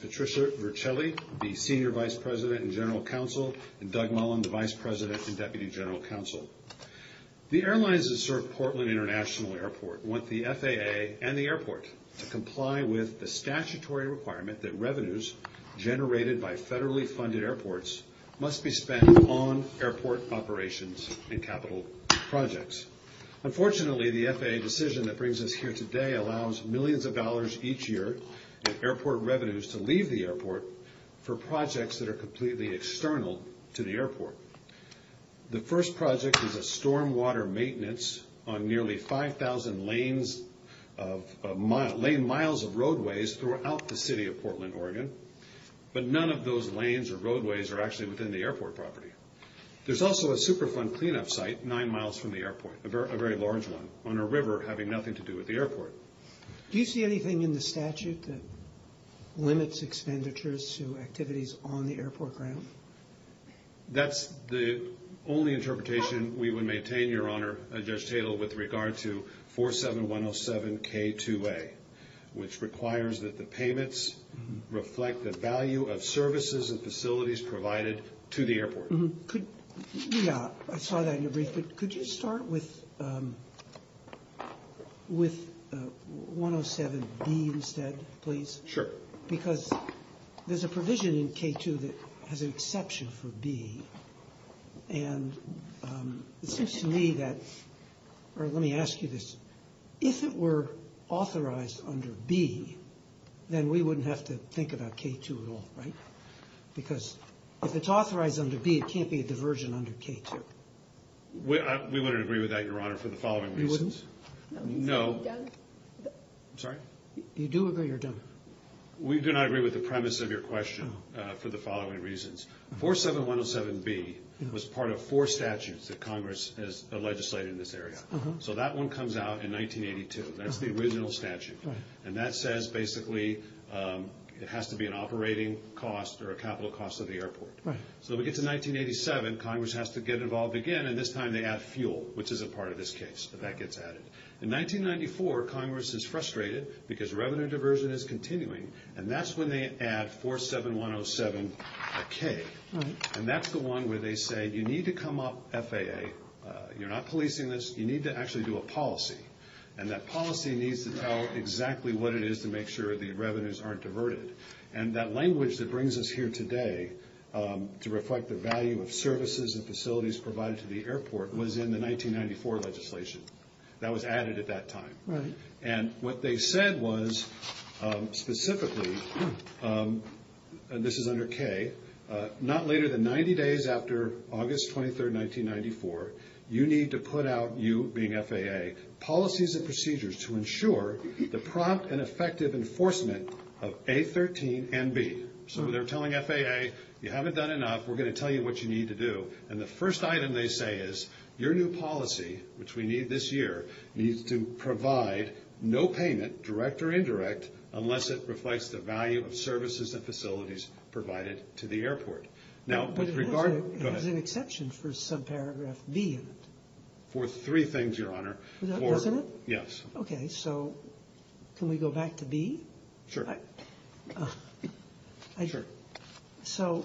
Patricia Vercelli, Senior Vice President and General Counsel, and Doug Mullen, Vice President and Deputy General Counsel. The airlines that serve Portland International Airport want the FAA and the airport to comply with the statutory requirement that revenues generated by federally funded airports must be spent on airport operations and capital projects. Unfortunately, the FAA decision that brings us here today allows millions of dollars each year in airport revenues to leave the airport for projects that are completely external to the airport. The first project is a stormwater maintenance on nearly 5,000 lane miles of roadways throughout the city of Portland, Oregon, but none of those lanes or roadways are actually within the airport property. There's also a Superfund cleanup site nine miles from the airport, a very large one on a river having nothing to do with the airport. Do you see anything in the statute that limits expenditures to activities on the airport ground? That's the only interpretation we would maintain, Your Honor, Judge Tatel, with regard to 47107K2A, which requires that the payments reflect the value of services and facilities provided to the airport. I saw that in your brief, but could you start with 107B instead, please? Sure. Because there's a provision in K2 that has an exception for B, and it seems to me that, or let me ask you this, if it were authorized under B, then we wouldn't have to think about K2 at all, right? Because if it's authorized under B, it can't be a diversion under K2. We wouldn't agree with that, Your Honor, for the following reasons. You wouldn't? No. I'm sorry? You do agree or don't? We do not agree with the premise of your question for the following reasons. 47107B was part of four statutes that Congress has legislated in this area. So that one comes out in 1982. That's the original statute. And that says, basically, it has to be an operating cost or a capital cost of the airport. So we get to 1987, Congress has to get involved again, and this time they add fuel, which is a part of this case. That gets added. In 1994, Congress is frustrated because revenue diversion is continuing, and that's when they add 47107K. And that's the one where they say, you need to come up FAA, you're not policing this, you need to actually do a policy. And that policy needs to tell exactly what it is to make sure the revenues aren't diverted. And that language that brings us here today to reflect the value of services and facilities provided to the airport was in the 1994 legislation. That was added at that time. And what they said was, specifically, and this is under K, not later than 90 days after August 23, 1994, you need to put out, you being FAA, policies and procedures to ensure the prompt and effective enforcement of A13 and B. So they're telling FAA, you haven't done enough, we're going to tell you what you need to do. And the first item they say is, your new policy, which we need this year, needs to provide no payment, direct or indirect, unless it reflects the value of services and facilities provided to the airport. Now, with regard... But it has an exception for subparagraph B in it. For three things, Your Honor. Doesn't it? Yes. Okay, so can we go back to B? Sure. So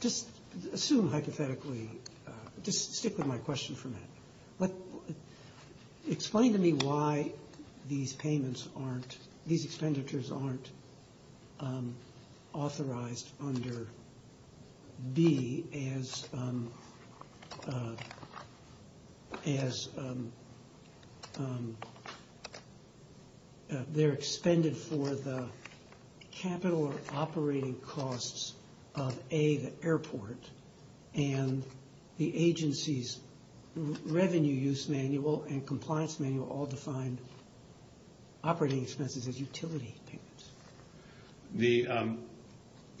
just assume hypothetically, just stick with my question for a minute. Explain to me why these payments aren't, these expenditures aren't authorized under B as they're expended for the capital operating costs of A, the airport, and the agency's revenue use manual and compliance manual all define operating expenses as utility payments. The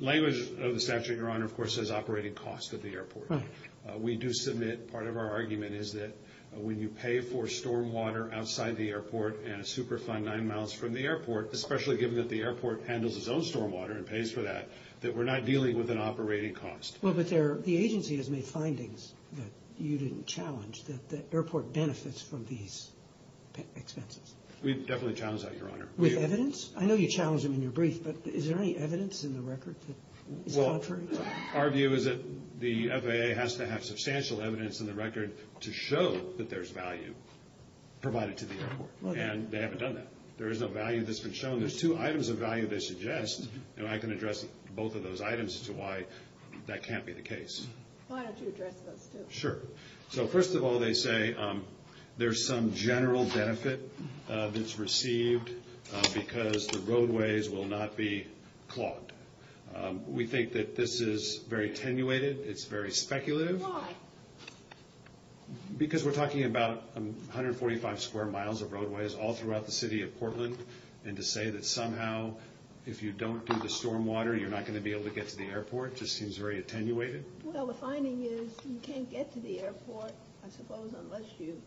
language of the statute, Your Honor, of course, says operating costs of the airport. Right. We do submit, part of our argument is that when you pay for stormwater outside the airport and a Superfund nine miles from the airport, especially given that the airport handles its own stormwater and pays for that, that we're not dealing with an operating cost. Well, but the agency has made findings that you didn't challenge that the airport benefits from these expenses. We definitely challenge that, Your Honor. With evidence? I know you challenged them in your brief, but is there any evidence in the record that is contrary? Well, our view is that the FAA has to have substantial evidence in the record to show that there's value provided to the airport. And they haven't done that. There is no value that's been shown. Well, there's two items of value they suggest, and I can address both of those items as to why that can't be the case. Why don't you address those, too? Sure. So, first of all, they say there's some general benefit that's received because the roadways will not be clogged. We think that this is very tenuated. It's very speculative. Why? Because we're talking about 145 square miles of roadways all throughout the city of Portland, and to say that somehow if you don't do the stormwater, you're not going to be able to get to the airport just seems very attenuated. Well, the finding is you can't get to the airport, I suppose, unless you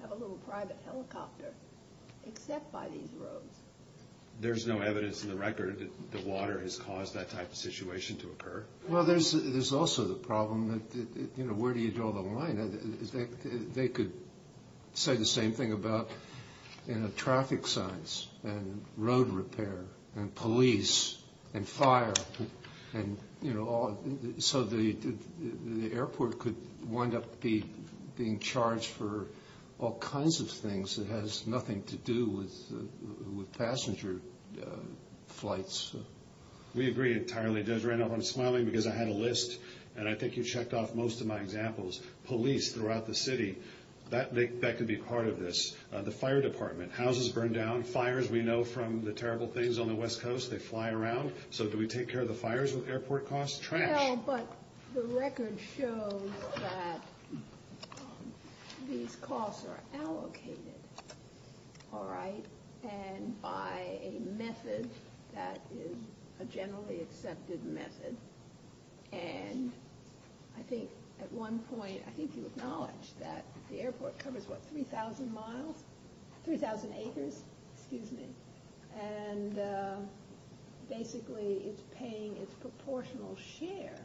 have a little private helicopter, except by these roads. There's no evidence in the record that the water has caused that type of situation to occur. Well, there's also the problem that, you know, where do you draw the line? They could say the same thing about traffic signs and road repair and police and fire and, you know, so the airport could wind up being charged for all kinds of things that has nothing to do with passenger flights. We agree entirely. I just ran off on smiling because I had a list, and I think you checked off most of my examples. Police throughout the city, that could be part of this. The fire department, houses burn down. Fires, we know from the terrible things on the West Coast, they fly around. So do we take care of the fires with airport costs? Trash. Well, but the record shows that these costs are allocated, all right, and by a method that is a generally accepted method. And I think at one point, I think you acknowledged that the airport covers, what, 3,000 miles? 3,000 acres? Excuse me. And basically, it's paying its proportional share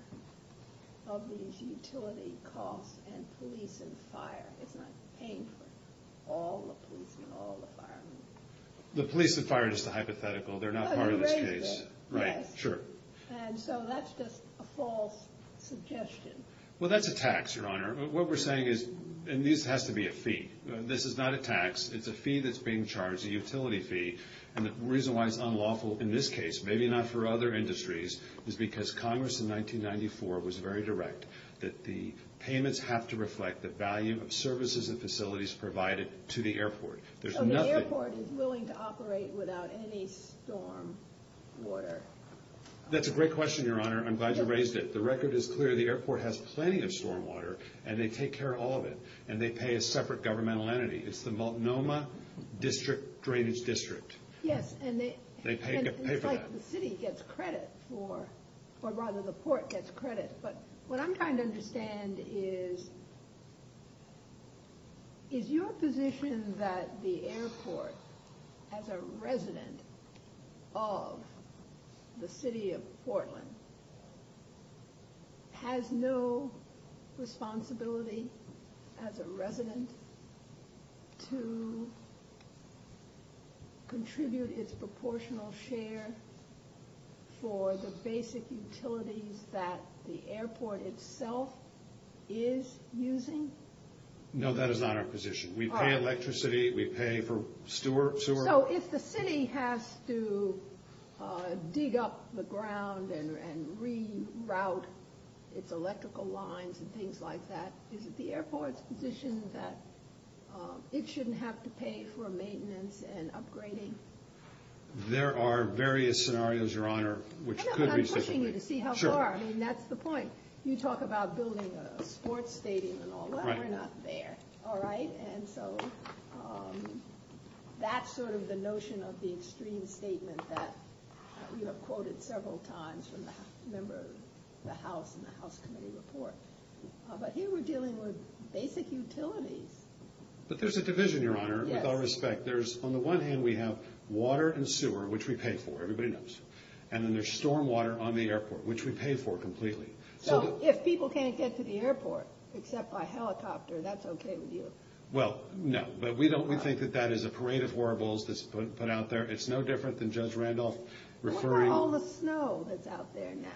of these utility costs and police and fire. It's not paying for all the police and all the firemen. The police and fire are just a hypothetical. They're not part of this case. Right, sure. And so that's just a false suggestion. Well, that's a tax, Your Honor. What we're saying is, and this has to be a fee. This is not a tax. It's a fee that's being charged, a utility fee. And the reason why it's unlawful in this case, maybe not for other industries, is because Congress in 1994 was very direct that the payments have to reflect the value of services and facilities provided to the airport. So the airport is willing to operate without any stormwater? That's a great question, Your Honor. I'm glad you raised it. The record is clear. The airport has plenty of stormwater, and they take care of all of it, and they pay a separate governmental entity. It's the Multnomah District Drainage District. Yes, and it's like the city gets credit for, or rather the port gets credit. But what I'm trying to understand is, is your position that the airport, as a resident of the city of Portland, has no responsibility as a resident to contribute its proportional share for the basic utilities that the airport itself is using? No, that is not our position. We pay electricity. We pay for sewer. So if the city has to dig up the ground and reroute its electrical lines and things like that, is it the airport's position that it shouldn't have to pay for maintenance and upgrading? There are various scenarios, Your Honor, which could be different. I'm pushing you to see how far. I mean, that's the point. You talk about building a sports stadium and all that. We're not there, all right? And so that's sort of the notion of the extreme statement that you have quoted several times from the House Committee report. But here we're dealing with basic utilities. But there's a division, Your Honor, with all respect. On the one hand, we have water and sewer, which we pay for. Everybody knows. And then there's stormwater on the airport, which we pay for completely. So if people can't get to the airport except by helicopter, that's okay with you? Well, no. But we think that that is a parade of horribles that's put out there. It's no different than Judge Randolph referring— What about all the snow that's out there now?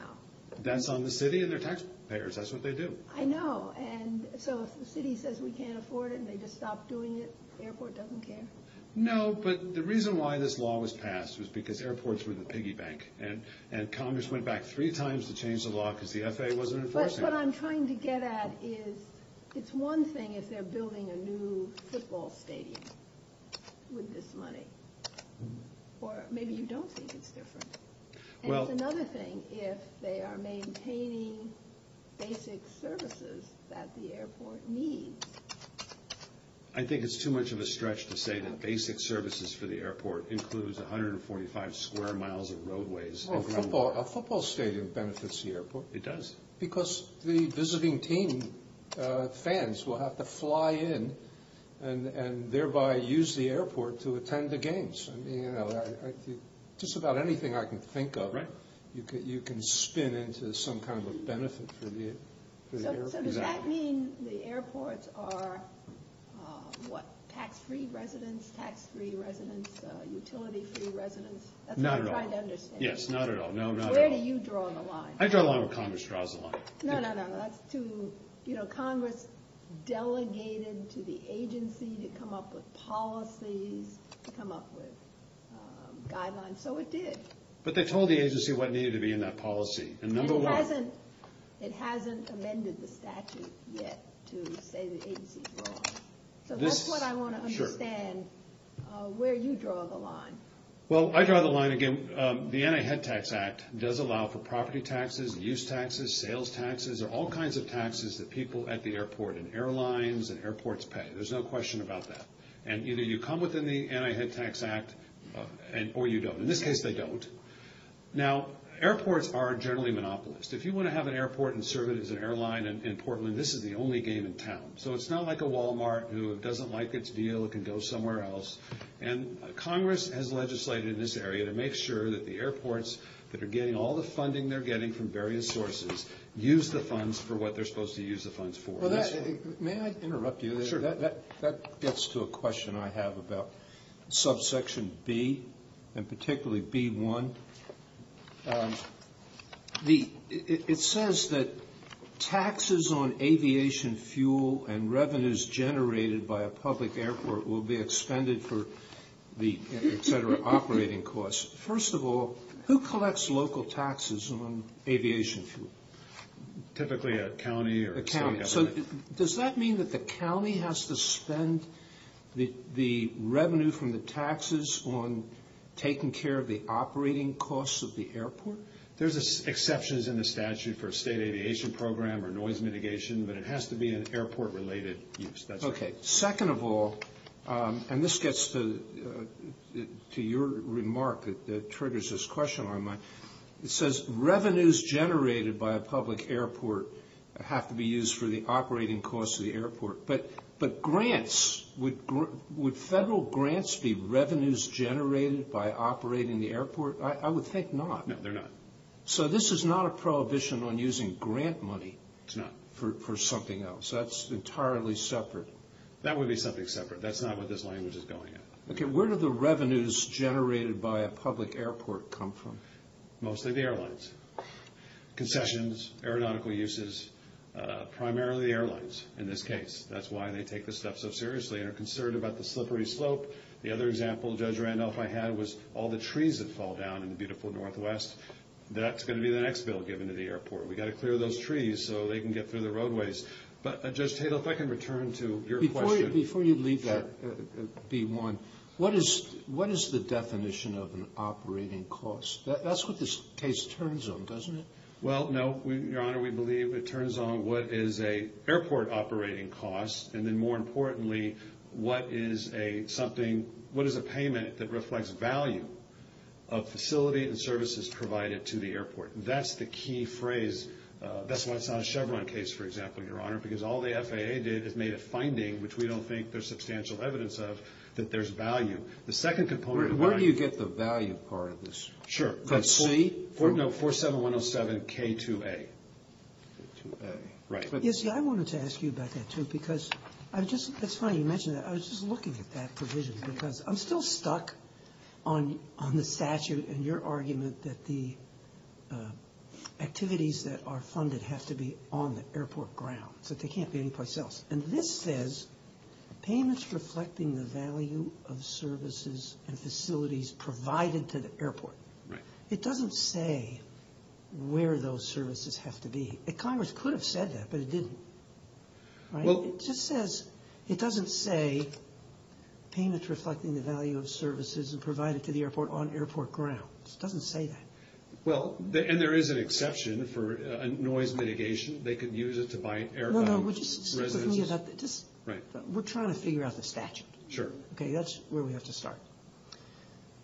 That's on the city and their taxpayers. That's what they do. I know. And so if the city says we can't afford it and they just stop doing it, the airport doesn't care? No, but the reason why this law was passed was because airports were the piggy bank. And Congress went back three times to change the law because the FAA wasn't enforcing it. But what I'm trying to get at is it's one thing if they're building a new football stadium with this money. Or maybe you don't think it's different. And it's another thing if they are maintaining basic services that the airport needs. I think it's too much of a stretch to say that basic services for the airport includes 145 square miles of roadways. A football stadium benefits the airport. It does. Because the visiting team fans will have to fly in and thereby use the airport to attend the games. Just about anything I can think of, you can spin into some kind of a benefit for the airport. So does that mean the airports are tax-free residents, utility-free residents? Not at all. That's what I'm trying to understand. Yes, not at all. Where do you draw the line? I draw the line where Congress draws the line. No, no, no. Congress delegated to the agency to come up with policies, to come up with guidelines. So it did. But they told the agency what needed to be in that policy. It hasn't amended the statute yet to say the agency's wrong. So that's what I want to understand, where you draw the line. Well, I draw the line, again, the Anti-Head Tax Act does allow for property taxes, use taxes, sales taxes, all kinds of taxes that people at the airport and airlines and airports pay. There's no question about that. And either you come within the Anti-Head Tax Act or you don't. In this case, they don't. Now, airports are generally monopolist. If you want to have an airport and serve it as an airline in Portland, this is the only game in town. So it's not like a Walmart who doesn't like its deal, it can go somewhere else. And Congress has legislated in this area to make sure that the airports that are getting all the funding they're getting from various sources use the funds for what they're supposed to use the funds for. May I interrupt you? Sure. That gets to a question I have about subsection B, and particularly B1. It says that taxes on aviation fuel and revenues generated by a public airport will be expended for the, et cetera, operating costs. First of all, who collects local taxes on aviation fuel? Typically a county or a state government. So does that mean that the county has to spend the revenue from the taxes on taking care of the operating costs of the airport? There's exceptions in the statute for state aviation program or noise mitigation, but it has to be an airport-related use. Okay. Second of all, and this gets to your remark that triggers this question on mine. It says revenues generated by a public airport have to be used for the operating costs of the airport. But grants, would federal grants be revenues generated by operating the airport? I would think not. No, they're not. So this is not a prohibition on using grant money for something else. That's entirely separate. That would be something separate. That's not what this language is going at. Okay. Where do the revenues generated by a public airport come from? Mostly the airlines. Concessions, aeronautical uses, primarily the airlines in this case. That's why they take this stuff so seriously and are concerned about the slippery slope. The other example Judge Randolph and I had was all the trees that fall down in the beautiful northwest. That's going to be the next bill given to the airport. We've got to clear those trees so they can get through the roadways. But, Judge Tatel, if I can return to your question. Before you leave that, B-1, what is the definition of an operating cost? That's what this case turns on, doesn't it? Well, no, Your Honor, we believe it turns on what is an airport operating cost, and then more importantly what is a payment that reflects value of facility and services provided to the airport. That's the key phrase. That's why it's not a Chevron case, for example, Your Honor, because all the FAA did is made a finding, which we don't think there's substantial evidence of, that there's value. The second component of value. Where do you get the value part of this? Sure. The C? No, 47107K2A. K2A. Right. Yes, I wanted to ask you about that, too, because that's funny you mentioned that. I was just looking at that provision because I'm still stuck on the statute and your argument that the activities that are funded have to be on the airport ground, so they can't be anyplace else. And this says payments reflecting the value of services and facilities provided to the airport. Right. It doesn't say where those services have to be. Congress could have said that, but it didn't. It just says, it doesn't say payments reflecting the value of services provided to the airport on airport ground. It doesn't say that. Well, and there is an exception for noise mitigation. They could use it to buy airtime. No, no, would you speak with me about that? We're trying to figure out the statute. Sure. Okay, that's where we have to start.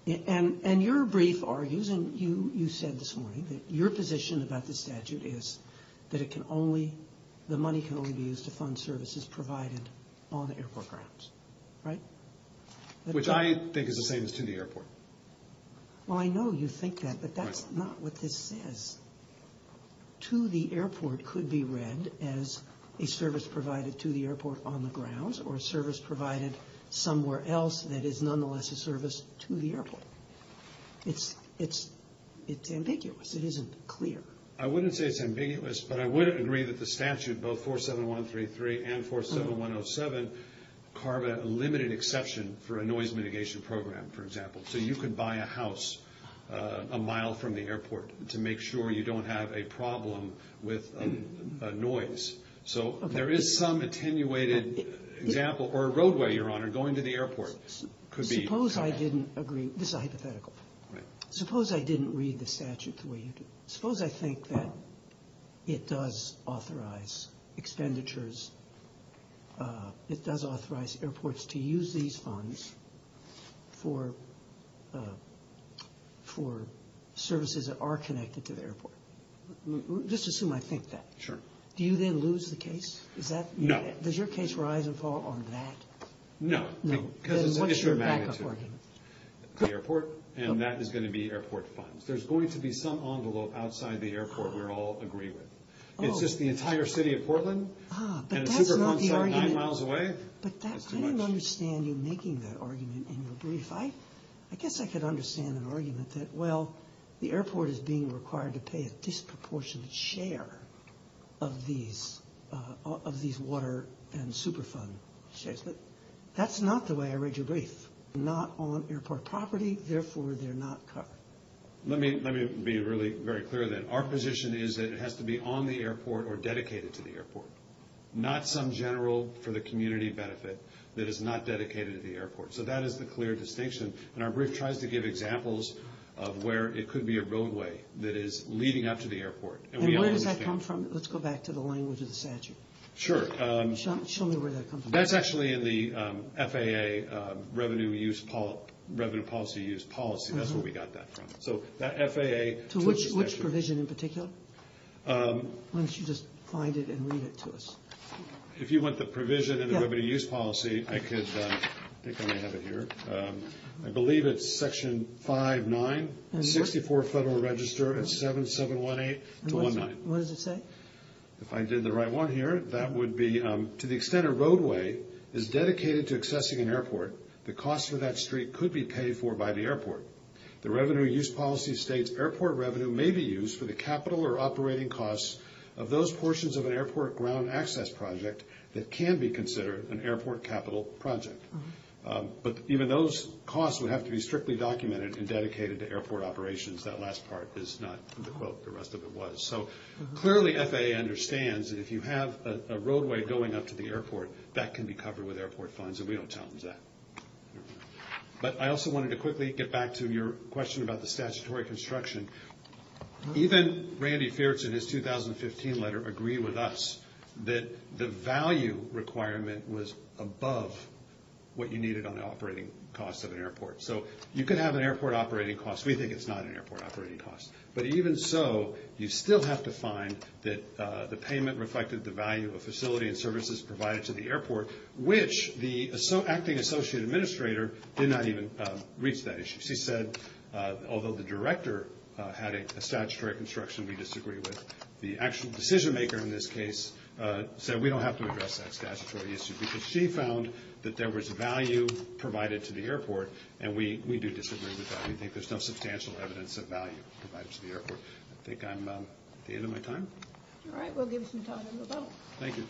And your brief argues, and you said this morning, that your position about the statute is that it can only, the money can only be used to fund services provided on the airport grounds. Right? Which I think is the same as to the airport. Well, I know you think that, but that's not what this says. To the airport could be read as a service provided to the airport on the grounds or a service provided somewhere else that is nonetheless a service to the airport. It's ambiguous. It isn't clear. I wouldn't say it's ambiguous, but I would agree that the statute, both 47133 and 47107, carve a limited exception for a noise mitigation program, for example. So you could buy a house a mile from the airport to make sure you don't have a problem with noise. So there is some attenuated example. Or a roadway, Your Honor, going to the airport could be. Suppose I didn't agree. This is a hypothetical. Suppose I didn't read the statute the way you did. Suppose I think that it does authorize expenditures, it does authorize airports to use these funds for services that are connected to the airport. Just assume I think that. Do you then lose the case? No. Does your case rise and fall on that? No. Because it's an issue of magnitude. Then what's your back-up argument? The airport, and that is going to be airport funds. There's going to be some envelope outside the airport we're all agree with. It's just the entire city of Portland and a Superfund store nine miles away. But that's not the argument. But that's too much. I didn't understand you making that argument in your brief. I guess I could understand an argument that, well, the airport is being required to pay a disproportionate share of these water and Superfund shares. But that's not the way I read your brief. Not on airport property, therefore they're not covered. Let me be really very clear then. Our position is that it has to be on the airport or dedicated to the airport, not some general for the community benefit that is not dedicated to the airport. So that is the clear distinction. And our brief tries to give examples of where it could be a roadway that is leading up to the airport. And where does that come from? Let's go back to the language of the statute. Sure. Show me where that comes from. That's actually in the FAA Revenue Policy Use Policy. That's where we got that from. So that FAA. To which provision in particular? Why don't you just find it and read it to us? If you want the provision in the Revenue Use Policy, I could. I think I may have it here. I believe it's Section 5-9, 64 Federal Register at 7718-19. What does it say? If I did the right one here, that would be, to the extent a roadway is dedicated to accessing an airport, the cost for that street could be paid for by the airport. The Revenue Use Policy states, airport revenue may be used for the capital or operating costs of those portions of an airport ground access project that can be considered an airport capital project. But even those costs would have to be strictly documented and dedicated to airport operations. That last part is not the quote. The rest of it was. So clearly FAA understands that if you have a roadway going up to the airport, that can be covered with airport funds, and we don't challenge that. But I also wanted to quickly get back to your question about the statutory construction. Even Randy Fiertz in his 2015 letter agreed with us that the value requirement was above what you needed on the operating costs of an airport. So you could have an airport operating cost. We think it's not an airport operating cost. But even so, you still have to find that the payment reflected the value of facility and services provided to the airport, which the acting associate administrator did not even reach that issue. She said, although the director had a statutory construction we disagree with, the actual decision maker in this case said we don't have to address that statutory issue because she found that there was value provided to the airport, and we do disagree with that. We think there's no substantial evidence of value provided to the airport. I think I'm at the end of my time. All right. We'll give you some time to vote. Thank you.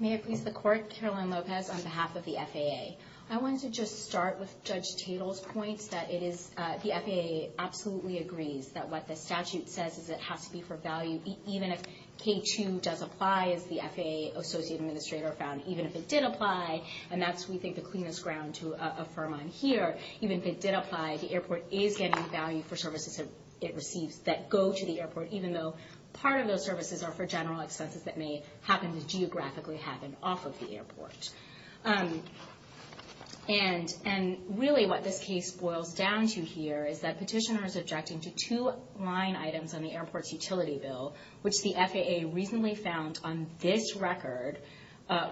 May it please the Court. Caroline Lopez on behalf of the FAA. I wanted to just start with Judge Tatel's point that the FAA absolutely agrees that what the statute says is it has to be for value even if K2 does apply, as the FAA associate administrator found, even if it did apply, and that's, we think, the cleanest ground to affirm on here. Even if it did apply, the airport is getting value for services it receives that go to the airport, even though part of those services are for general expenses that may happen to geographically happen off of the airport. And really what this case boils down to here is that petitioner is objecting to two line items on the airport's utility bill, which the FAA recently found on this record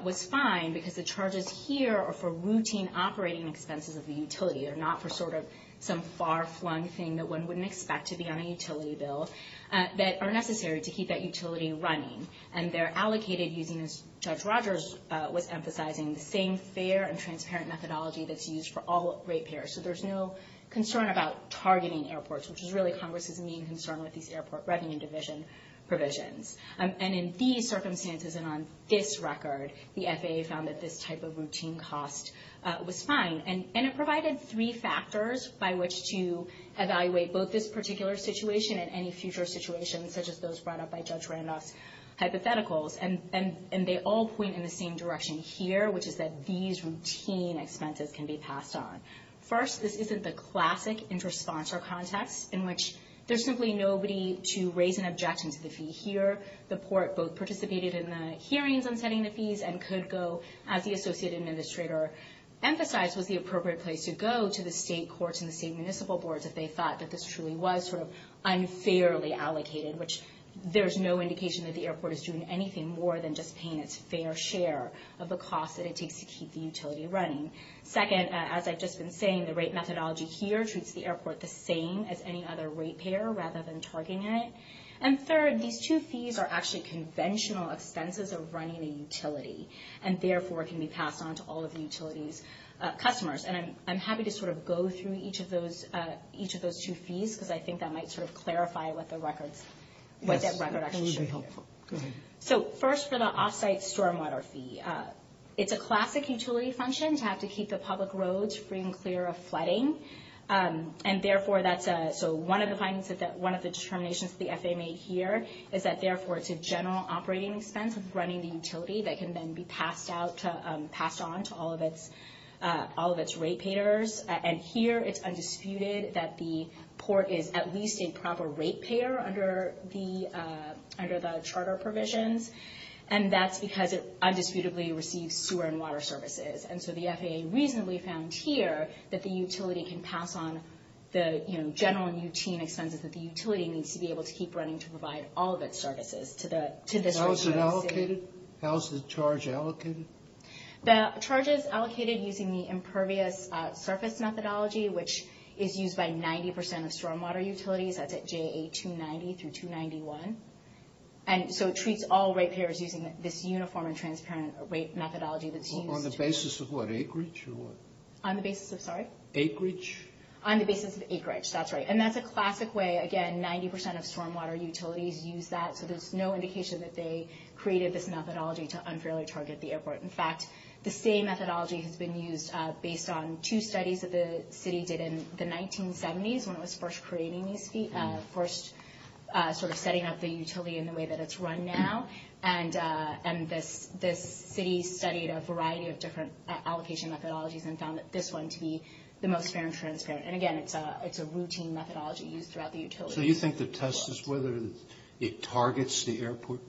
was fine because the charges here are for routine operating expenses of the utility. They're not for sort of some far-flung thing that one wouldn't expect to be on a utility bill that are necessary to keep that utility running. And they're allocated using, as Judge Rogers was emphasizing, the same fair and transparent methodology that's used for all rate payers. So there's no concern about targeting airports, which is really Congress's main concern with these airport revenue division provisions. And in these circumstances and on this record, the FAA found that this type of routine cost was fine. And it provided three factors by which to evaluate both this particular situation and any future situations such as those brought up by Judge Randolph's hypotheticals. And they all point in the same direction here, which is that these routine expenses can be passed on. First, this isn't the classic inter-sponsor context in which there's simply nobody to raise an objection to the fee here. The court both participated in the hearings on setting the fees and could go, as the associate administrator emphasized, was the appropriate place to go to the state courts and the state municipal boards if they thought that this truly was unfairly allocated, which there's no indication that the airport is doing anything more than just paying its fair share of the cost that it takes to keep the utility running. Second, as I've just been saying, the rate methodology here treats the airport the same as any other rate payer rather than targeting it. And third, these two fees are actually conventional expenses of running a utility and therefore can be passed on to all of the utility's customers. And I'm happy to sort of go through each of those two fees because I think that might sort of clarify what that record actually should be. So first, for the off-site stormwater fee, it's a classic utility function to have to keep the public roads free and clear of flooding. And therefore, that's one of the determinations that the FAA made here is that therefore it's a general operating expense of running the utility that can then be passed on to all of its rate payers. And here it's undisputed that the port is at least a proper rate payer under the charter provisions. And that's because it undisputedly receives sewer and water services. And so the FAA reasonably found here that the utility can pass on the general and UT expenses that the utility needs to be able to keep running to provide all of its services to this... How is it allocated? How is the charge allocated? The charge is allocated using the impervious surface methodology, which is used by 90% of stormwater utilities. That's at JA290 through 291. And so it treats all rate payers using this uniform and transparent rate methodology that's used... On the basis of what, acreage or what? On the basis of, sorry? Acreage? On the basis of acreage, that's right. And that's a classic way, again, 90% of stormwater utilities use that. So there's no indication that they created this methodology to unfairly target the airport. In fact, the same methodology has been used based on two studies that the city did in the 1970s when it was first setting up the utility in the way that it's run now. And this city studied a variety of different allocation methodologies and found this one to be the most fair and transparent. And again, it's a routine methodology used throughout the utility. So you think the test is whether it targets the airport?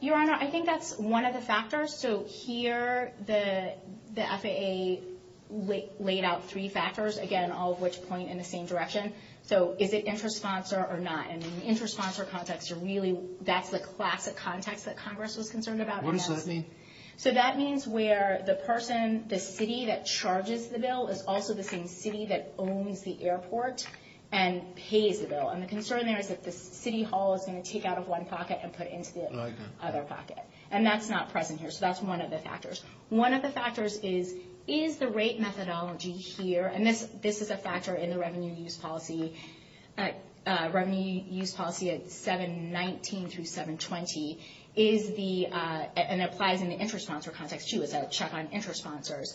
Your Honor, I think that's one of the factors. So here, the FAA laid out three factors, again, all of which point in the same direction. So is it intrasponsor or not? And in the intrasponsor context, that's the classic context that Congress was concerned about. What does that mean? So that means where the person, the city that charges the bill, is also the same city that owns the airport and pays the bill. And the concern there is that the city hall is going to take out of one pocket and put into the other pocket. And that's not present here. So that's one of the factors. One of the factors is, is the rate methodology here, and this is a factor in the revenue use policy at 719 through 720, and it applies in the intrasponsor context too. It's a check on intrasponsors.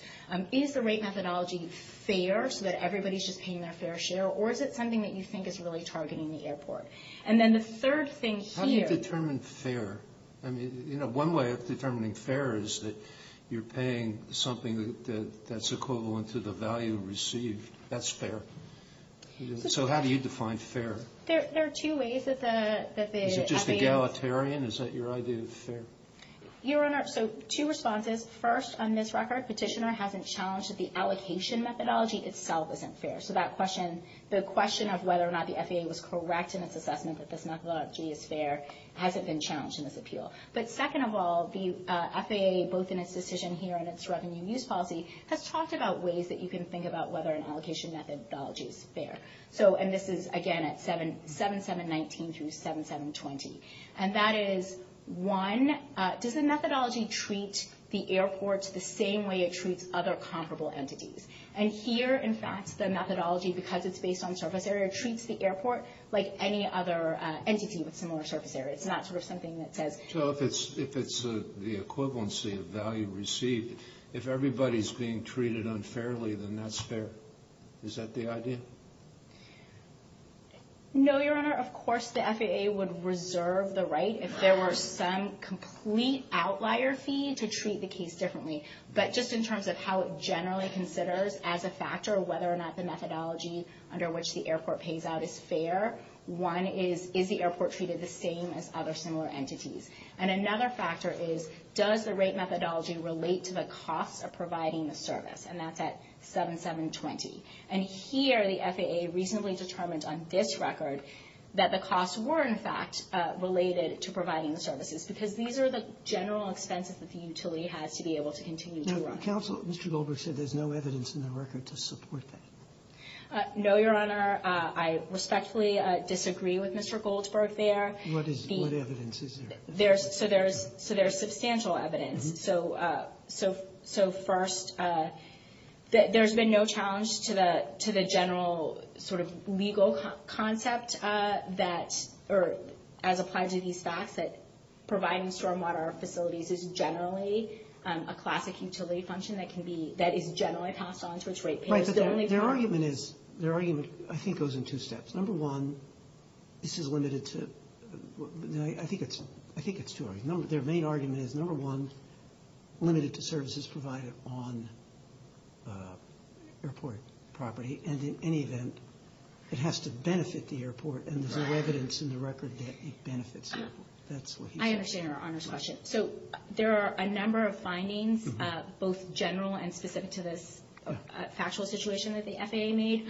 Is the rate methodology fair so that everybody's just paying their fair share? Or is it something that you think is really targeting the airport? And then the third thing here. How do you determine fair? I mean, you know, one way of determining fair is that you're paying something that's equivalent to the value received. That's fair. So how do you define fair? There are two ways that the FAA – Is it just egalitarian? Is that your idea of fair? Your Honor, so two responses. First, on this record, Petitioner hasn't challenged that the allocation methodology itself isn't fair. So that question, the question of whether or not the FAA was correct in its assessment that this methodology is fair, hasn't been challenged in this appeal. But second of all, the FAA, both in its decision here and its revenue use policy, has talked about ways that you can think about whether an allocation methodology is fair. And this is, again, at 7719 through 7720. And that is, one, does the methodology treat the airport the same way it treats other comparable entities? And here, in fact, the methodology, because it's based on surface area, treats the airport like any other entity with similar surface area. It's not sort of something that says – So if it's the equivalency of value received, if everybody's being treated unfairly, then that's fair. Is that the idea? No, Your Honor. Of course the FAA would reserve the right, if there were some complete outlier fee, to treat the case differently. But just in terms of how it generally considers, as a factor, whether or not the methodology under which the airport pays out is fair, one is, is the airport treated the same as other similar entities? And another factor is, does the rate methodology relate to the cost of providing the service? And that's at 7720. And here, the FAA reasonably determined on this record that the costs were, in fact, related to providing the services, because these are the general expenses that the utility has to be able to continue to run. Counsel, Mr. Goldberg said there's no evidence in the record to support that. No, Your Honor. I respectfully disagree with Mr. Goldberg there. What evidence is there? So there's substantial evidence. So first, there's been no challenge to the general sort of legal concept that, or as applied to these facts, that providing stormwater facilities is generally a classic utility function that can be, that is generally passed on to its rate payers. Right, but their argument is, their argument, I think, goes in two steps. Number one, this is limited to, I think it's two arguments. Their main argument is, number one, limited to services provided on airport property. And there's no evidence in the record that it benefits the airport. I understand Your Honor's question. So there are a number of findings, both general and specific to this factual situation that the FAA made.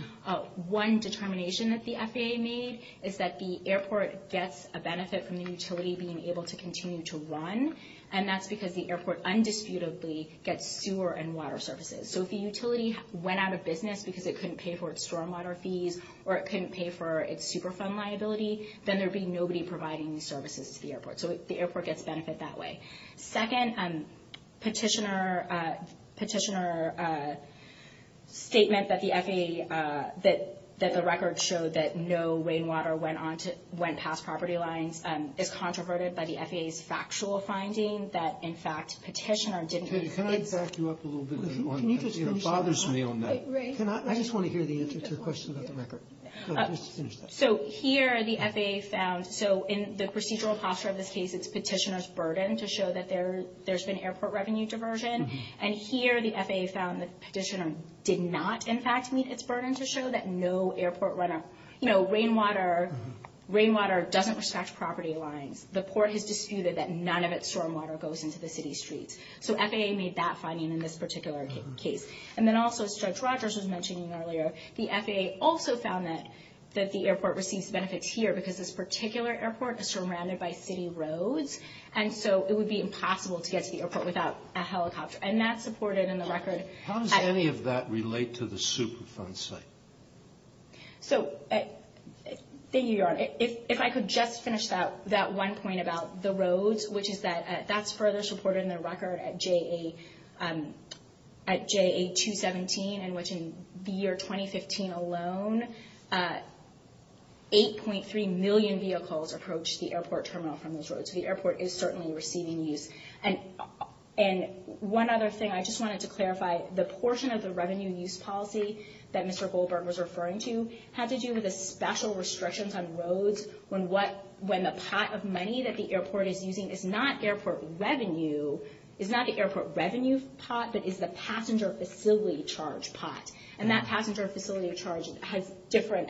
One determination that the FAA made is that the airport gets a benefit from the utility being able to continue to run, and that's because the airport undisputedly gets sewer and water services. So if the utility went out of business because it couldn't pay for its stormwater fees or it couldn't pay for its Superfund liability, then there'd be nobody providing these services to the airport. So the airport gets benefit that way. Second, petitioner statement that the FAA, that the record showed that no rainwater went past property lines, is controverted by the FAA's factual finding that, in fact, petitioner didn't... Katie, can I back you up a little bit on that? It bothers me on that. I just want to hear the answer to your question about the record. Go ahead, just finish that. So here the FAA found... So in the procedural posture of this case, it's petitioner's burden to show that there's been airport revenue diversion. And here the FAA found the petitioner did not, in fact, meet its burden to show that no airport runoff... You know, rainwater doesn't scratch property lines. The Port has disputed that none of its stormwater goes into the city streets. So FAA made that finding in this particular case. And then also, as Judge Rogers was mentioning earlier, the FAA also found that the airport receives benefits here because this particular airport is surrounded by city roads, and so it would be impossible to get to the airport without a helicopter. And that's supported in the record. How does any of that relate to the Superfund site? So, thank you, Your Honor. If I could just finish that one point about the roads, which is that that's further supported in the record at JA217, in which in the year 2015 alone, 8.3 million vehicles approached the airport terminal from those roads. So the airport is certainly receiving use. And one other thing, I just wanted to clarify, the portion of the revenue use policy that Mr. Goldberg was referring to had to do with the special restrictions on roads when the pot of money that the airport is using is not the airport revenue pot, but is the passenger facility charge pot. And that passenger facility charge has different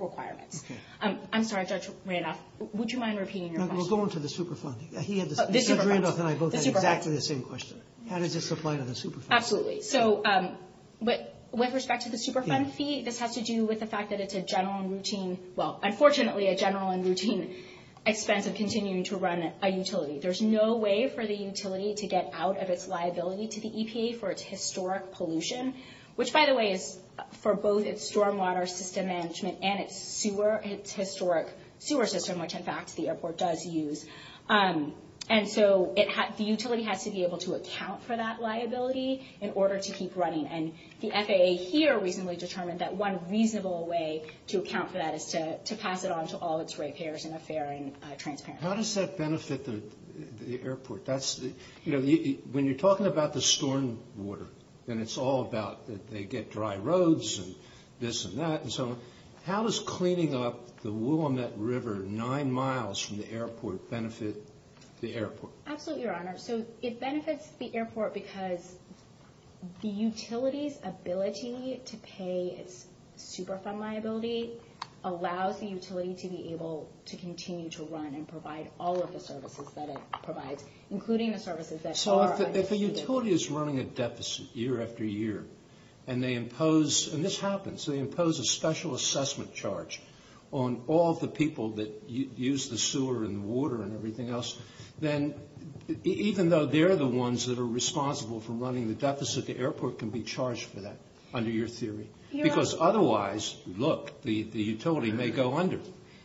requirements. I'm sorry, Judge Randolph. Would you mind repeating your question? We'll go on to the Superfund. Judge Randolph and I both had exactly the same question. How does this apply to the Superfund? Absolutely. So, with respect to the Superfund fee, this has to do with the fact that it's a general and routine, well, unfortunately, a general and routine expense of continuing to run a utility. There's no way for the utility to get out of its liability to the EPA for its historic pollution, which, by the way, is for both its stormwater system management and its historic sewer system, which, in fact, the airport does use. And so the utility has to be able to account for that liability in order to keep running. And the FAA here recently determined that one reasonable way to account for that is to pass it on to all its rate payers in a fair and transparent way. How does that benefit the airport? You know, when you're talking about the stormwater, and it's all about that they get dry roads and this and that and so on, how does cleaning up the Willamette River nine miles from the airport benefit the airport? Absolutely, Your Honor. So, it benefits the airport because the utility's ability to pay its Superfund liability allows the utility to be able to continue to run and provide all of the services that it provides, including the services that are understood. So, if a utility is running a deficit year after year, and they impose, and this happens, they impose a special assessment charge on all the people that use the sewer and the water and everything else, then even though they're the ones that are responsible for running the deficit, the airport can be charged for that, under your theory. Because otherwise, look, the utility may go under.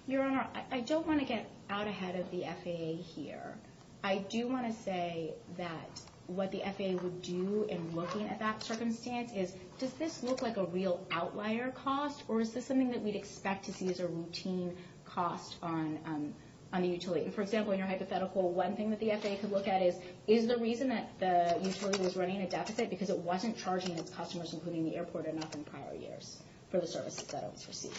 Your Honor, I don't want to get out ahead of the FAA here. I do want to say that what the FAA would do in looking at that circumstance is, does this look like a real outlier cost, or is this something that we'd expect to see as a routine cost on the utility? For example, in your hypothetical, one thing that the FAA could look at is, is the reason that the utility was running a deficit because it wasn't charging its customers, including the airport, enough in prior years, for the services that it was receiving.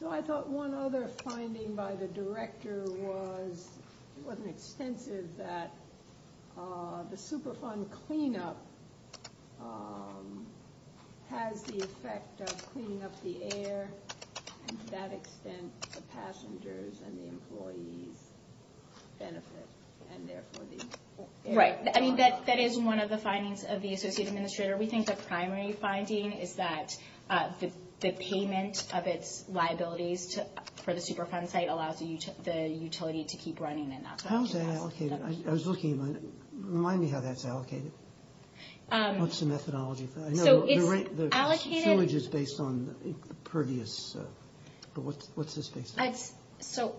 So, I thought one other finding by the director was, it wasn't extensive, that the Superfund cleanup has the effect of cleaning up the air, and to that extent, the passengers and the employees benefit, Right. I mean, that is one of the findings of the associate administrator. We think the primary finding is that the payment of its liabilities for the Superfund site allows the utility to keep running and not charge it. How is that allocated? I was looking at it. Remind me how that's allocated. What's the methodology for that? So, it's allocated. I know the sewage is based on the previous. What's this based on? So,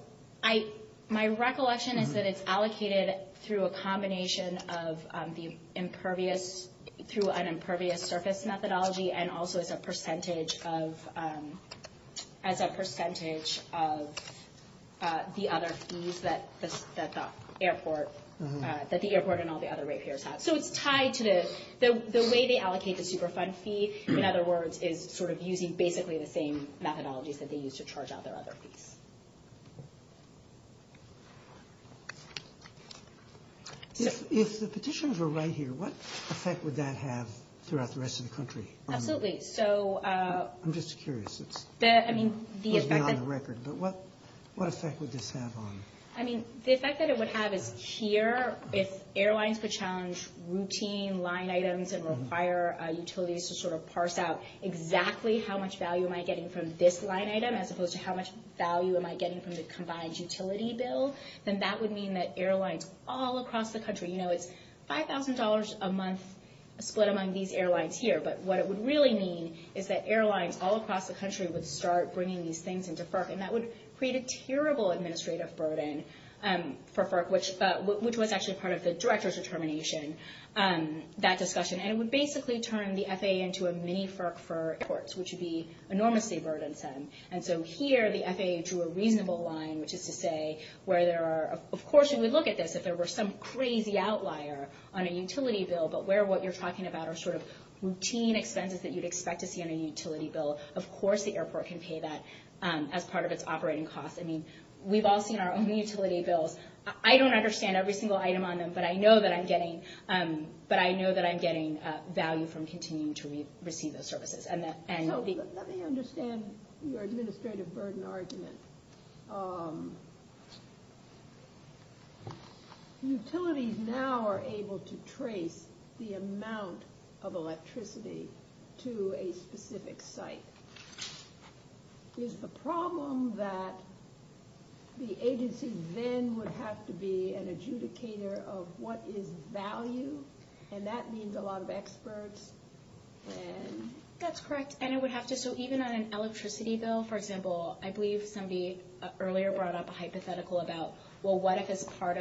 my recollection is that it's allocated through a combination of the impervious, through an impervious surface methodology, and also as a percentage of the other fees that the airport and all the other rate payers have. So, it's tied to the way they allocate the Superfund fee, in other words, is sort of using basically the same methodologies that they use to charge out their other fees. If the petitions were right here, what effect would that have throughout the rest of the country? Absolutely. I'm just curious. It's not on the record, but what effect would this have on? I mean, the effect that it would have is here, if airlines could challenge routine line items and require utilities to sort of parse out exactly how much value am I getting from this line item, as opposed to how much value am I getting from the combined utility bill, then that would mean that airlines all across the country. You know, it's $5,000 a month split among these airlines here, but what it would really mean is that airlines all across the country would start bringing these things into FERC, and that would create a terrible administrative burden for FERC, which was actually part of the director's determination. That discussion. And it would basically turn the FAA into a mini-FERC for airports, which would be enormously burdensome. And so here the FAA drew a reasonable line, which is to say where there are, of course, you would look at this if there were some crazy outlier on a utility bill, but where what you're talking about are sort of routine expenses that you'd expect to see on a utility bill. Of course the airport can pay that as part of its operating costs. I mean, we've all seen our own utility bills. I don't understand every single item on them, but I know that I'm getting value from continuing to receive those services. So let me understand your administrative burden argument. Utilities now are able to trace the amount of electricity to a specific site. Is the problem that the agency then would have to be an adjudicator of what is value, and that means a lot of experts? That's correct, and it would have to. So even on an electricity bill, for example, I believe somebody earlier brought up a hypothetical about, well, what if as part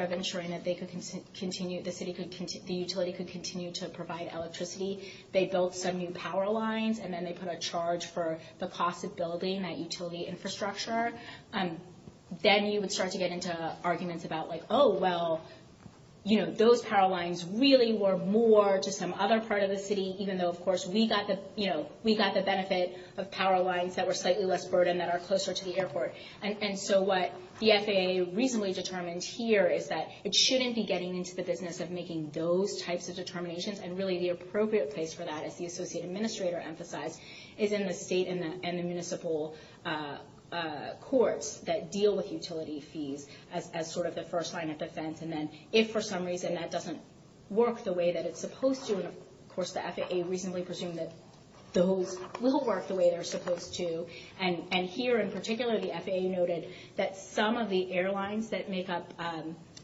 of ensuring that they could continue, the utility could continue to provide electricity, they built some new power lines, and then they put a charge for the cost of building that utility infrastructure? Then you would start to get into arguments about, like, oh, well, those power lines really were more to some other part of the city, even though, of course, we got the benefit of power lines that were slightly less burdened that are closer to the airport. And so what the FAA reasonably determined here is that it shouldn't be getting into the business of making those types of determinations, and really the appropriate place for that, as the Associate Administrator emphasized, is in the state and the municipal courts that deal with utility fees as sort of the first line of defense. And then if for some reason that doesn't work the way that it's supposed to, and of course the FAA reasonably presumed that those will work the way they're supposed to, and here in particular the FAA noted that some of the airlines that make up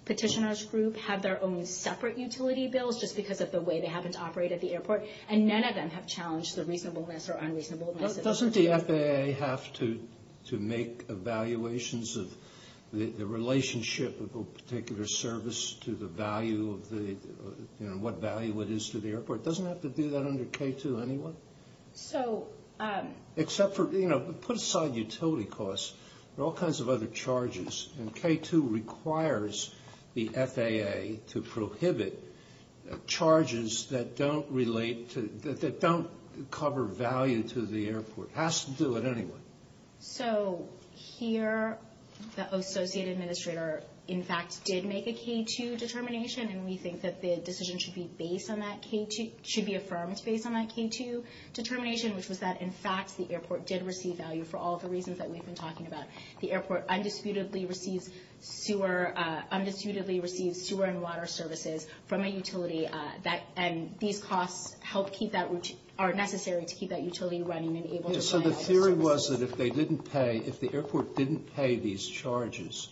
Petitioner's Group have their own separate utility bills just because of the way they happen to operate at the airport, and none of them have challenged the reasonableness or unreasonableness of that. Doesn't the FAA have to make evaluations of the relationship of a particular service to the value of the, you know, what value it is to the airport? Doesn't it have to do that under K-2 anyway? Except for, you know, put aside utility costs, there are all kinds of other charges, and K-2 requires the FAA to prohibit charges that don't relate to, that don't cover value to the airport. It has to do it anyway. So here the Associate Administrator in fact did make a K-2 determination, and we think that the decision should be based on that K-2, should be affirmed based on that K-2 determination, which was that in fact the airport did receive value for all the reasons that we've been talking about. The airport undisputedly receives sewer and water services from a utility, and these costs are necessary to keep that utility running and able to provide those services. My theory was that if they didn't pay, if the airport didn't pay these charges,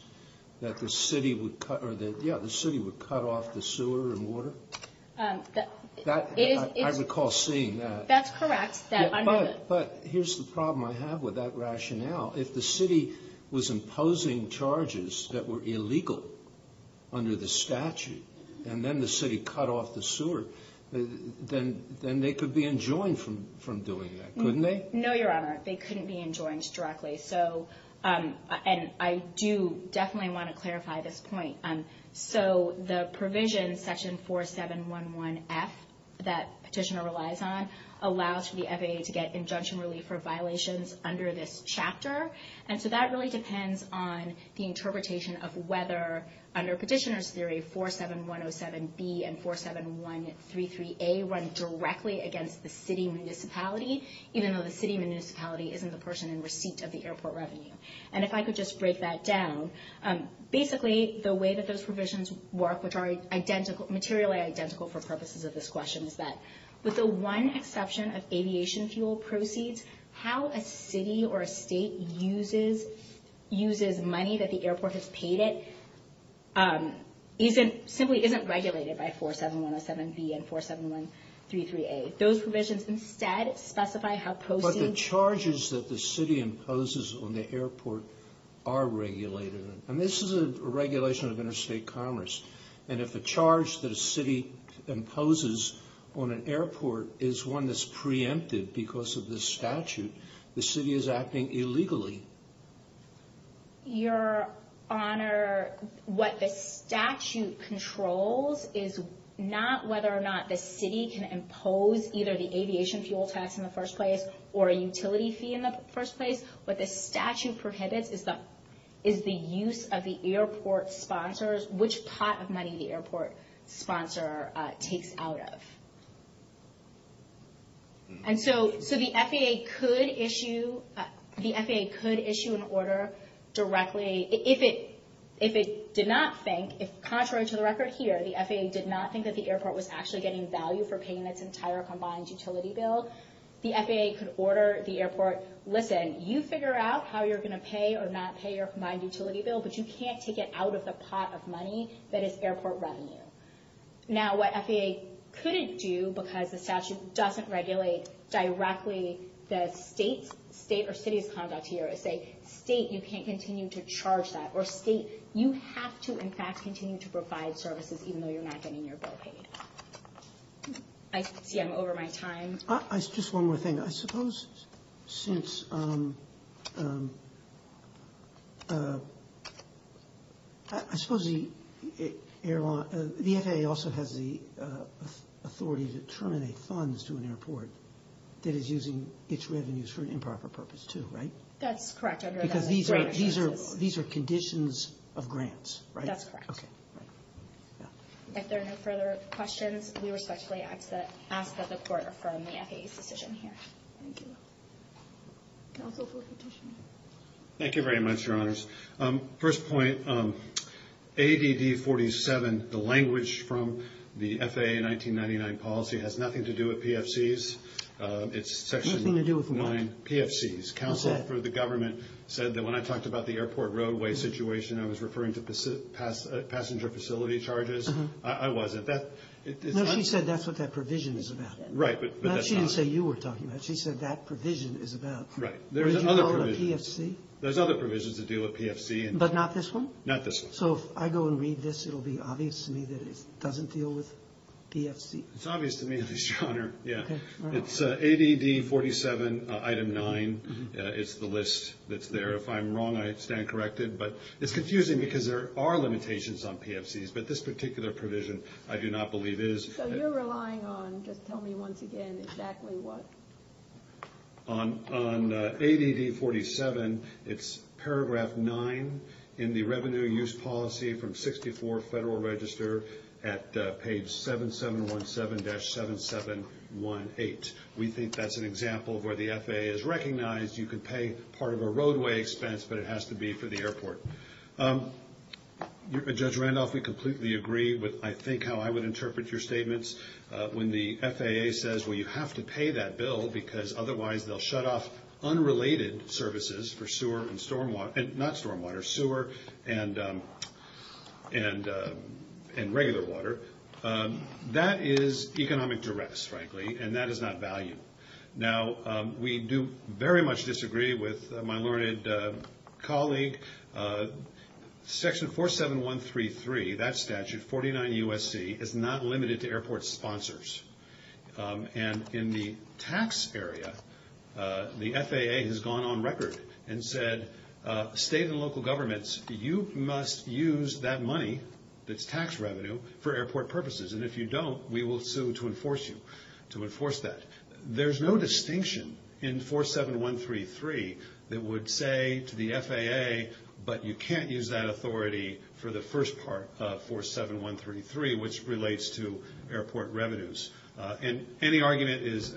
that the city would cut off the sewer and water? I recall seeing that. That's correct. But here's the problem I have with that rationale. If the city was imposing charges that were illegal under the statute, and then the city cut off the sewer, then they could be enjoined from doing that, couldn't they? No, Your Honor. They couldn't be enjoined directly. And I do definitely want to clarify this point. So the provision, section 4711F, that Petitioner relies on, allows for the FAA to get injunction relief for violations under this chapter. And so that really depends on the interpretation of whether, under Petitioner's theory, 47107B and 47133A run directly against the city municipality, even though the city municipality isn't the person in receipt of the airport revenue. And if I could just break that down, basically the way that those provisions work, which are materially identical for purposes of this question, is that with the one exception of aviation fuel proceeds, how a city or a state uses money that the airport has paid it simply isn't regulated by 47107B and 47133A. If those provisions instead specify how proceeds... But the charges that the city imposes on the airport are regulated. And this is a regulation of interstate commerce. And if the charge that a city imposes on an airport is one that's preempted because of this statute, the city is acting illegally. Your Honor, what the statute controls is not whether or not the city can impose either the aviation fuel tax in the first place or a utility fee in the first place. What the statute prohibits is the use of the airport sponsors, which pot of money the airport sponsor takes out of. And so the FAA could issue an order directly... If it did not think, contrary to the record here, the FAA did not think that the airport was actually getting value for paying its entire combined utility bill, the FAA could order the airport, listen, you figure out how you're going to pay or not pay your combined utility bill, but you can't take it out of the pot of money that is airport revenue. Now, what FAA couldn't do, because the statute doesn't regulate directly the state or city's conduct here, is say, state, you can't continue to charge that. Or state, you have to, in fact, continue to provide services, even though you're not getting your bill paid. I see I'm over my time. Just one more thing. I suppose since... I suppose the FAA also has the authority to terminate funds to an airport that is using its revenues for an improper purpose, too, right? That's correct. Because these are conditions of grants, right? That's correct. Okay. If there are no further questions, we respectfully ask that the Court affirm the FAA's decision here. Thank you. Counsel for petitioning. Thank you very much, Your Honors. First point, ADD 47, the language from the FAA 1999 policy, has nothing to do with PFCs. It's Section 9 PFCs. Counsel for the government said that when I talked about the airport roadway situation, I was referring to passenger facility charges. I wasn't. No, she said that's what that provision is about. Right, but that's not. She didn't say you were talking about it. She said that provision is about what you call a PFC. There's other provisions that deal with PFC. But not this one? Not this one. So if I go and read this, it will be obvious to me that it doesn't deal with PFC. It's obvious to me, Your Honor. It's ADD 47, Item 9. It's the list that's there. If I'm wrong, I stand corrected. But it's confusing because there are limitations on PFCs, but this particular provision I do not believe is. So you're relying on, just tell me once again, exactly what? On ADD 47, it's Paragraph 9 in the Revenue Use Policy from 64 Federal Register at page 7717-7718. We think that's an example of where the FAA has recognized you can pay part of a roadway expense, but it has to be for the airport. Judge Randolph, we completely agree with, I think, how I would interpret your statements. When the FAA says, well, you have to pay that bill, because otherwise they'll shut off unrelated services for sewer and stormwater. Not stormwater. Sewer and regular water. That is economic duress, frankly, and that is not valued. Now, we do very much disagree with my learned colleague. Section 47133, that statute, 49 U.S.C., is not limited to airport sponsors. And in the tax area, the FAA has gone on record and said, state and local governments, you must use that money that's tax revenue for airport purposes. And if you don't, we will sue to enforce you, to enforce that. There's no distinction in 47133 that would say to the FAA, but you can't use that authority for the first part of 47133, which relates to airport revenues. And any argument is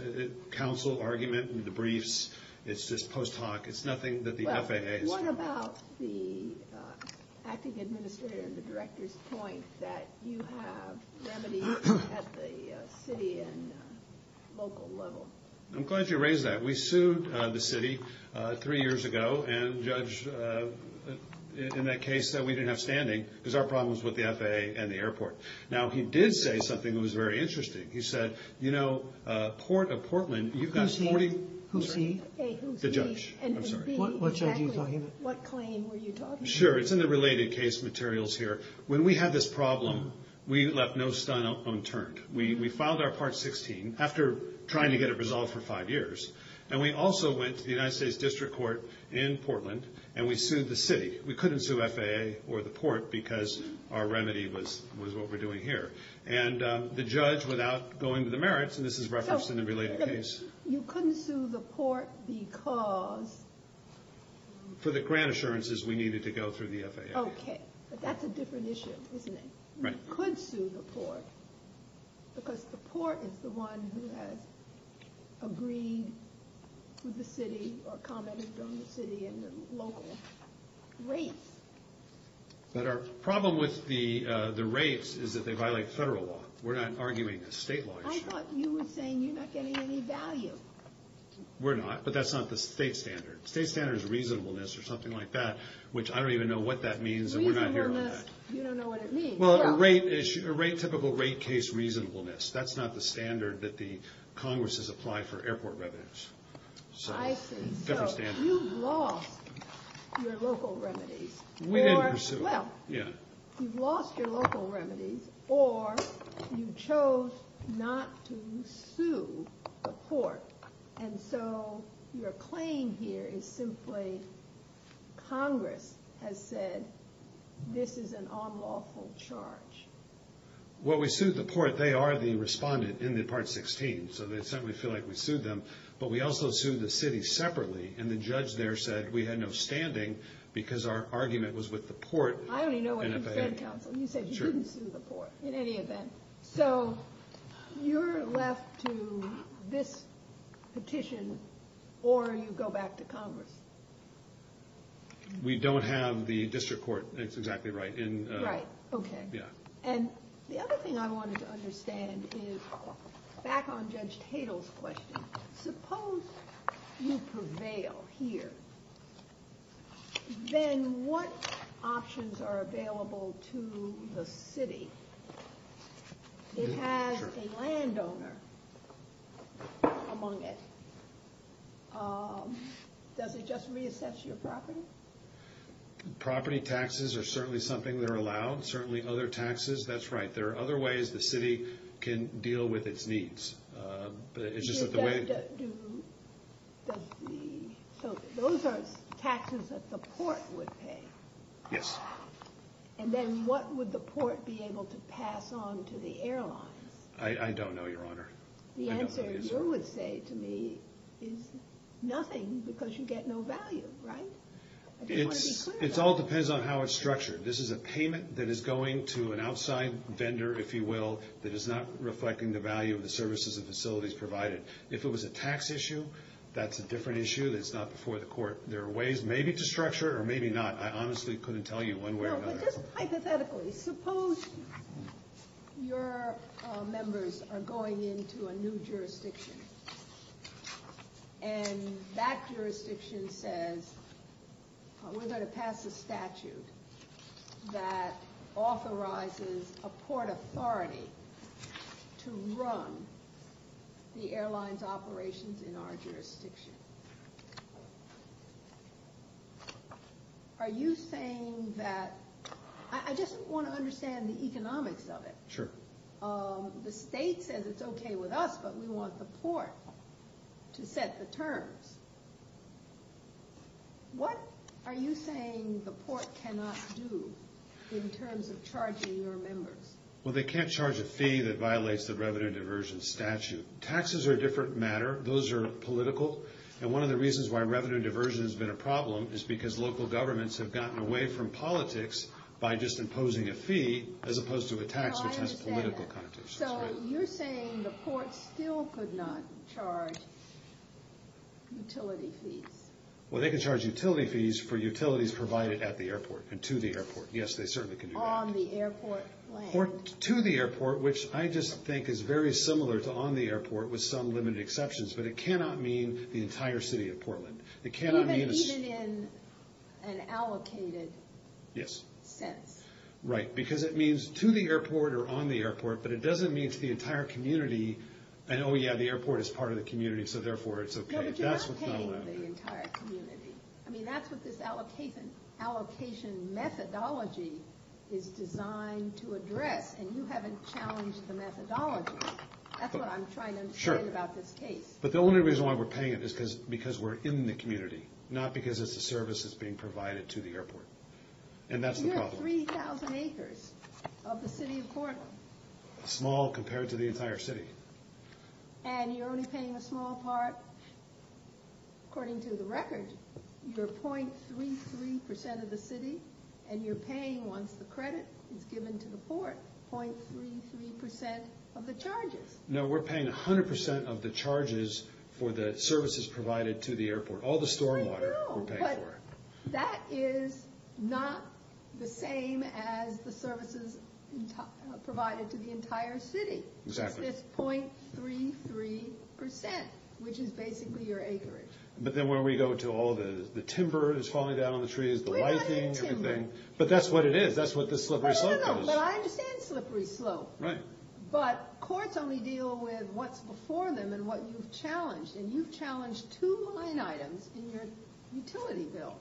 counsel argument in the briefs. It's just post hoc. It's nothing that the FAA has done. What about the acting administrator and the director's point that you have remedies at the city and local level? I'm glad you raised that. We sued the city three years ago, and the judge in that case said we didn't have standing because of our problems with the FAA and the airport. Now, he did say something that was very interesting. He said, you know, Port of Portland, you've got 40. Who's he? The judge. I'm sorry. What judge are you talking about? What claim were you talking about? Sure. It's in the related case materials here. When we had this problem, we left no stone unturned. We filed our Part 16 after trying to get it resolved for five years, and we also went to the United States District Court in Portland, and we sued the city. We couldn't sue FAA or the port because our remedy was what we're doing here. And the judge, without going to the merits, and this is referenced in the related case. You couldn't sue the port because? For the grant assurances we needed to go through the FAA. Okay. But that's a different issue, isn't it? Right. We could sue the port because the port is the one who has agreed with the city or commented on the city and the local rates. But our problem with the rates is that they violate federal law. We're not arguing a state law issue. I thought you were saying you're not getting any value. We're not, but that's not the state standard. The state standard is reasonableness or something like that, which I don't even know what that means, and we're not here on that. Reasonableness, you don't know what it means. Well, a typical rate case reasonableness. That's not the standard that the Congress has applied for airport revenues. I see. So you've lost your local remedies. We didn't pursue them. Well, you've lost your local remedies or you chose not to sue the port, and so your claim here is simply Congress has said this is an unlawful charge. Well, we sued the port. They are the respondent in the Part 16, so they simply feel like we sued them. But we also sued the city separately, and the judge there said we had no standing because our argument was with the port. I only know what you said, counsel. You said you didn't sue the port in any event. So you're left to this petition or you go back to Congress. We don't have the district court. That's exactly right. Right, okay. Yeah. And the other thing I wanted to understand is back on Judge Tatel's question, suppose you prevail here, then what options are available to the city? It has a landowner among it. Does it just reassess your property? Property taxes are certainly something that are allowed, certainly other taxes. That's right. There are other ways the city can deal with its needs. So those are taxes that the port would pay? Yes. And then what would the port be able to pass on to the airlines? I don't know, Your Honor. The answer you would say to me is nothing because you get no value, right? It all depends on how it's structured. This is a payment that is going to an outside vendor, if you will, that is not reflecting the value of the services and facilities provided. If it was a tax issue, that's a different issue. It's not before the court. There are ways maybe to structure it or maybe not. I honestly couldn't tell you one way or another. No, but just hypothetically, suppose your members are going into a new jurisdiction and that jurisdiction says, we're going to pass a statute that authorizes a port authority to run the airline's operations in our jurisdiction. Are you saying that... I just want to understand the economics of it. Sure. The state says it's okay with us, but we want the port to set the terms. What are you saying the port cannot do in terms of charging your members? Well, they can't charge a fee that violates the revenue diversion statute. Taxes are a different matter. Those are political. And one of the reasons why revenue diversion has been a problem is because local governments have gotten away from politics by just imposing a fee as opposed to a tax, which has political connotations. So you're saying the port still could not charge utility fees? Well, they could charge utility fees for utilities provided at the airport and to the airport. Yes, they certainly can do that. On the airport land? To the airport, which I just think is very similar to on the airport with some limited exceptions, but it cannot mean the entire city of Portland. It cannot mean... Even in an allocated... Yes. Sense. Right, because it means to the airport or on the airport, but it doesn't mean to the entire community, and oh, yeah, the airport is part of the community, so therefore it's okay. No, but you're not paying the entire community. I mean, that's what this allocation methodology is designed to address, and you haven't challenged the methodology. That's what I'm trying to explain about this case. But the only reason why we're paying it is because we're in the community, not because it's a service that's being provided to the airport, and that's the problem. But you have 3,000 acres of the city of Portland. Small compared to the entire city. And you're only paying a small part. According to the record, you're 0.33% of the city, and you're paying, once the credit is given to the port, 0.33% of the charges. No, we're paying 100% of the charges for the services provided to the airport. All the stormwater, we're paying for it. But that is not the same as the services provided to the entire city. Exactly. It's this 0.33%, which is basically your acreage. But then when we go to all the timber that's falling down on the trees, the lighting, everything. We're not getting timber. But that's what it is. That's what the slippery slope is. I don't know, but I understand slippery slope. Right. But courts only deal with what's before them and what you've challenged, and you've challenged two line items in your utility bill.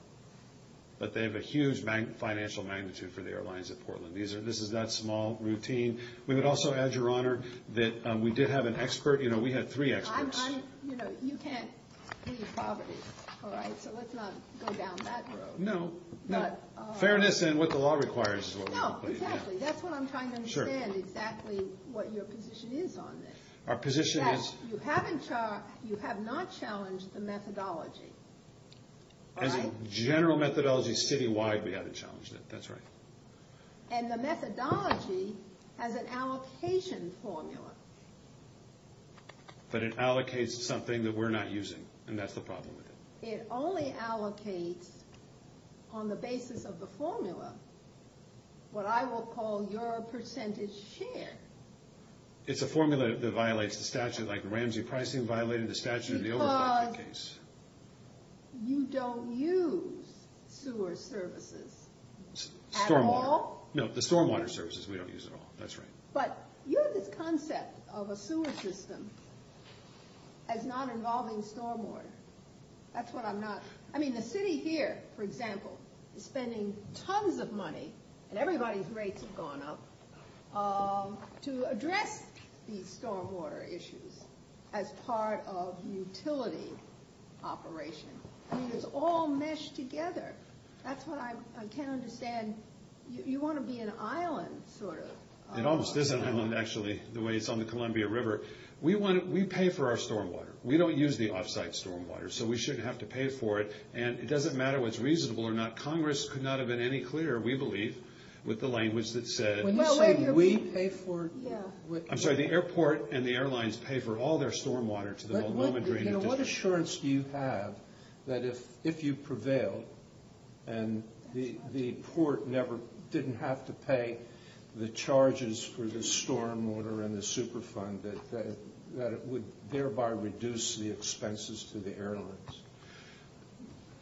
But they have a huge financial magnitude for the airlines at Portland. This is that small routine. We would also add, Your Honor, that we did have an expert. You know, we had three experts. You know, you can't leave poverty. All right? So let's not go down that road. No. Fairness and what the law requires is what we're going to put you down. No, exactly. That's what I'm trying to understand, exactly what your position is on this. You have not challenged the methodology. As a general methodology, citywide, we haven't challenged it. That's right. And the methodology has an allocation formula. But it allocates something that we're not using, and that's the problem with it. It only allocates, on the basis of the formula, what I will call your percentage share. It's a formula that violates the statute. Like, Ramsey Pricing violated the statute in the overflow case. Because you don't use sewer services at all. Stormwater. No, the stormwater services we don't use at all. That's right. But you have this concept of a sewer system as not involving stormwater. That's what I'm not. I mean, the city here, for example, is spending tons of money, and everybody's rates have gone up, to address these stormwater issues as part of utility operation. I mean, it's all meshed together. That's what I can't understand. You want to be an island, sort of. It almost is an island, actually, the way it's on the Columbia River. We pay for our stormwater. We don't use the offsite stormwater, so we shouldn't have to pay for it. And it doesn't matter what's reasonable or not. When you say we pay for it, what do you mean? I'm sorry, the airport and the airlines pay for all their stormwater to the Multnomah Drainage District. What assurance do you have that if you prevailed, and the port didn't have to pay the charges for the stormwater and the Superfund, that it would thereby reduce the expenses to the airlines?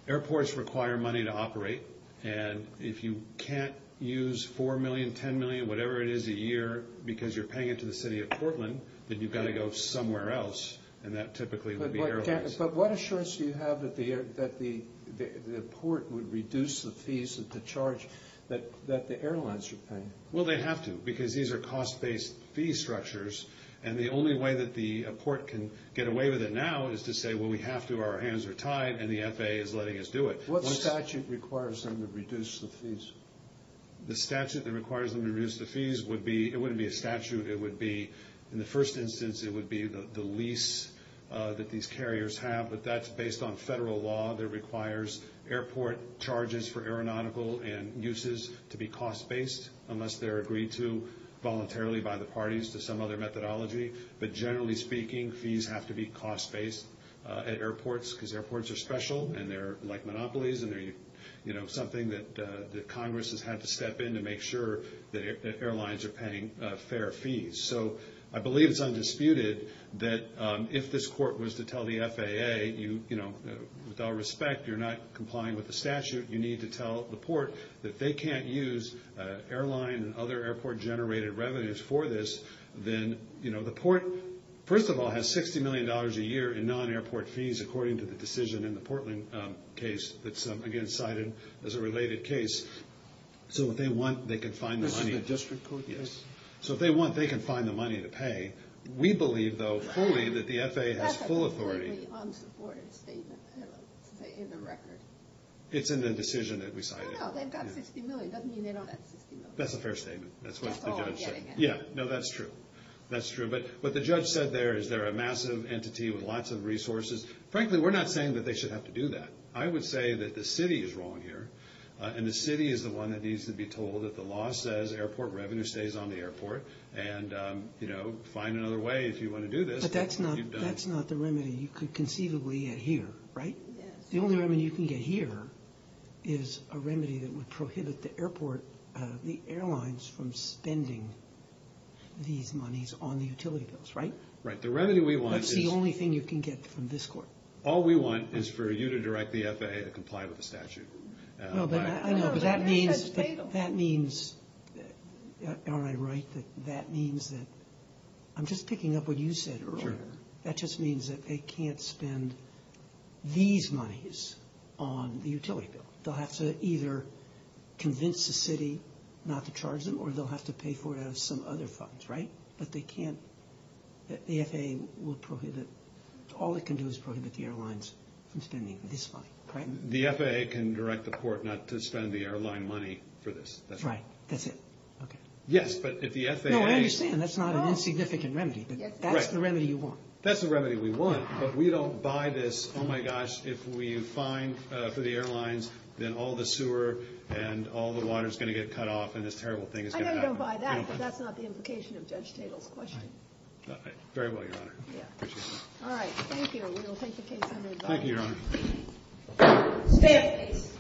Airports require money to operate, and if you can't use $4 million, $10 million, whatever it is a year, because you're paying it to the city of Portland, then you've got to go somewhere else, and that typically would be airlines. But what assurance do you have that the port would reduce the fees to charge that the airlines would pay? Well, they have to, because these are cost-based fee structures, and the only way that the port can get away with it now is to say, well, we have to, our hands are tied, and the FAA is letting us do it. What statute requires them to reduce the fees? The statute that requires them to reduce the fees would be, it wouldn't be a statute, it would be, in the first instance, it would be the lease that these carriers have, but that's based on federal law that requires airport charges for aeronautical and uses to be cost-based, unless they're agreed to voluntarily by the parties to some other methodology. But generally speaking, fees have to be cost-based at airports, because airports are special, and they're like monopolies, and they're, you know, something that Congress has had to step in to make sure that airlines are paying fair fees. So I believe it's undisputed that if this court was to tell the FAA, you know, with all respect, you're not complying with the statute, you need to tell the port that they can't use airline and other airport-generated revenues for this, then, you know, the port, first of all, has $60 million a year in non-airport fees, according to the decision in the Portland case that's, again, cited as a related case. So if they want, they can find the money. This is the district court? Yes. So if they want, they can find the money to pay. We believe, though, fully, that the FAA has full authority. That's a totally unsupported statement. It's in the record. It's in the decision that we cited. No, no, they've got $60 million. It doesn't mean they don't have $60 million. That's a fair statement. That's what the judge said. That's all I'm getting at. Yeah, no, that's true. That's true. But what the judge said there is they're a massive entity with lots of resources. Frankly, we're not saying that they should have to do that. I would say that the city is wrong here, and the city is the one that needs to be told that the law says airport revenue stays on the airport, and, you know, find another way if you want to do this. But that's not the remedy you could conceivably get here, right? Yes. The only remedy you can get here is a remedy that would prohibit the airport, the airlines, from spending these monies on the utility bills, right? Right. The remedy we want is. That's the only thing you can get from this Court. All we want is for you to direct the FAA to comply with the statute. No, but I know, but that means. No, the remedy says fatal. That means, aren't I right, that that means that I'm just picking up what you said earlier. Sure. That just means that they can't spend these monies on the utility bill. They'll have to either convince the city not to charge them, or they'll have to pay for it out of some other funds, right? But they can't. The FAA will prohibit. All it can do is prohibit the airlines from spending this money, right? The FAA can direct the Court not to spend the airline money for this. That's right. That's it. Okay. Yes, but if the FAA. No, I understand. That's not an insignificant remedy. Yes, it is. That's the remedy you want. That's the remedy we want, but we don't buy this. Oh, my gosh, if we fine for the airlines, then all the sewer and all the water is going to get cut off, and this terrible thing is going to happen. I know you don't buy that, but that's not the implication of Judge Tatel's question. All right. Very well, Your Honor. Yeah. Thank you. We will take the case under review. Thank you, Your Honor. Stand at ease.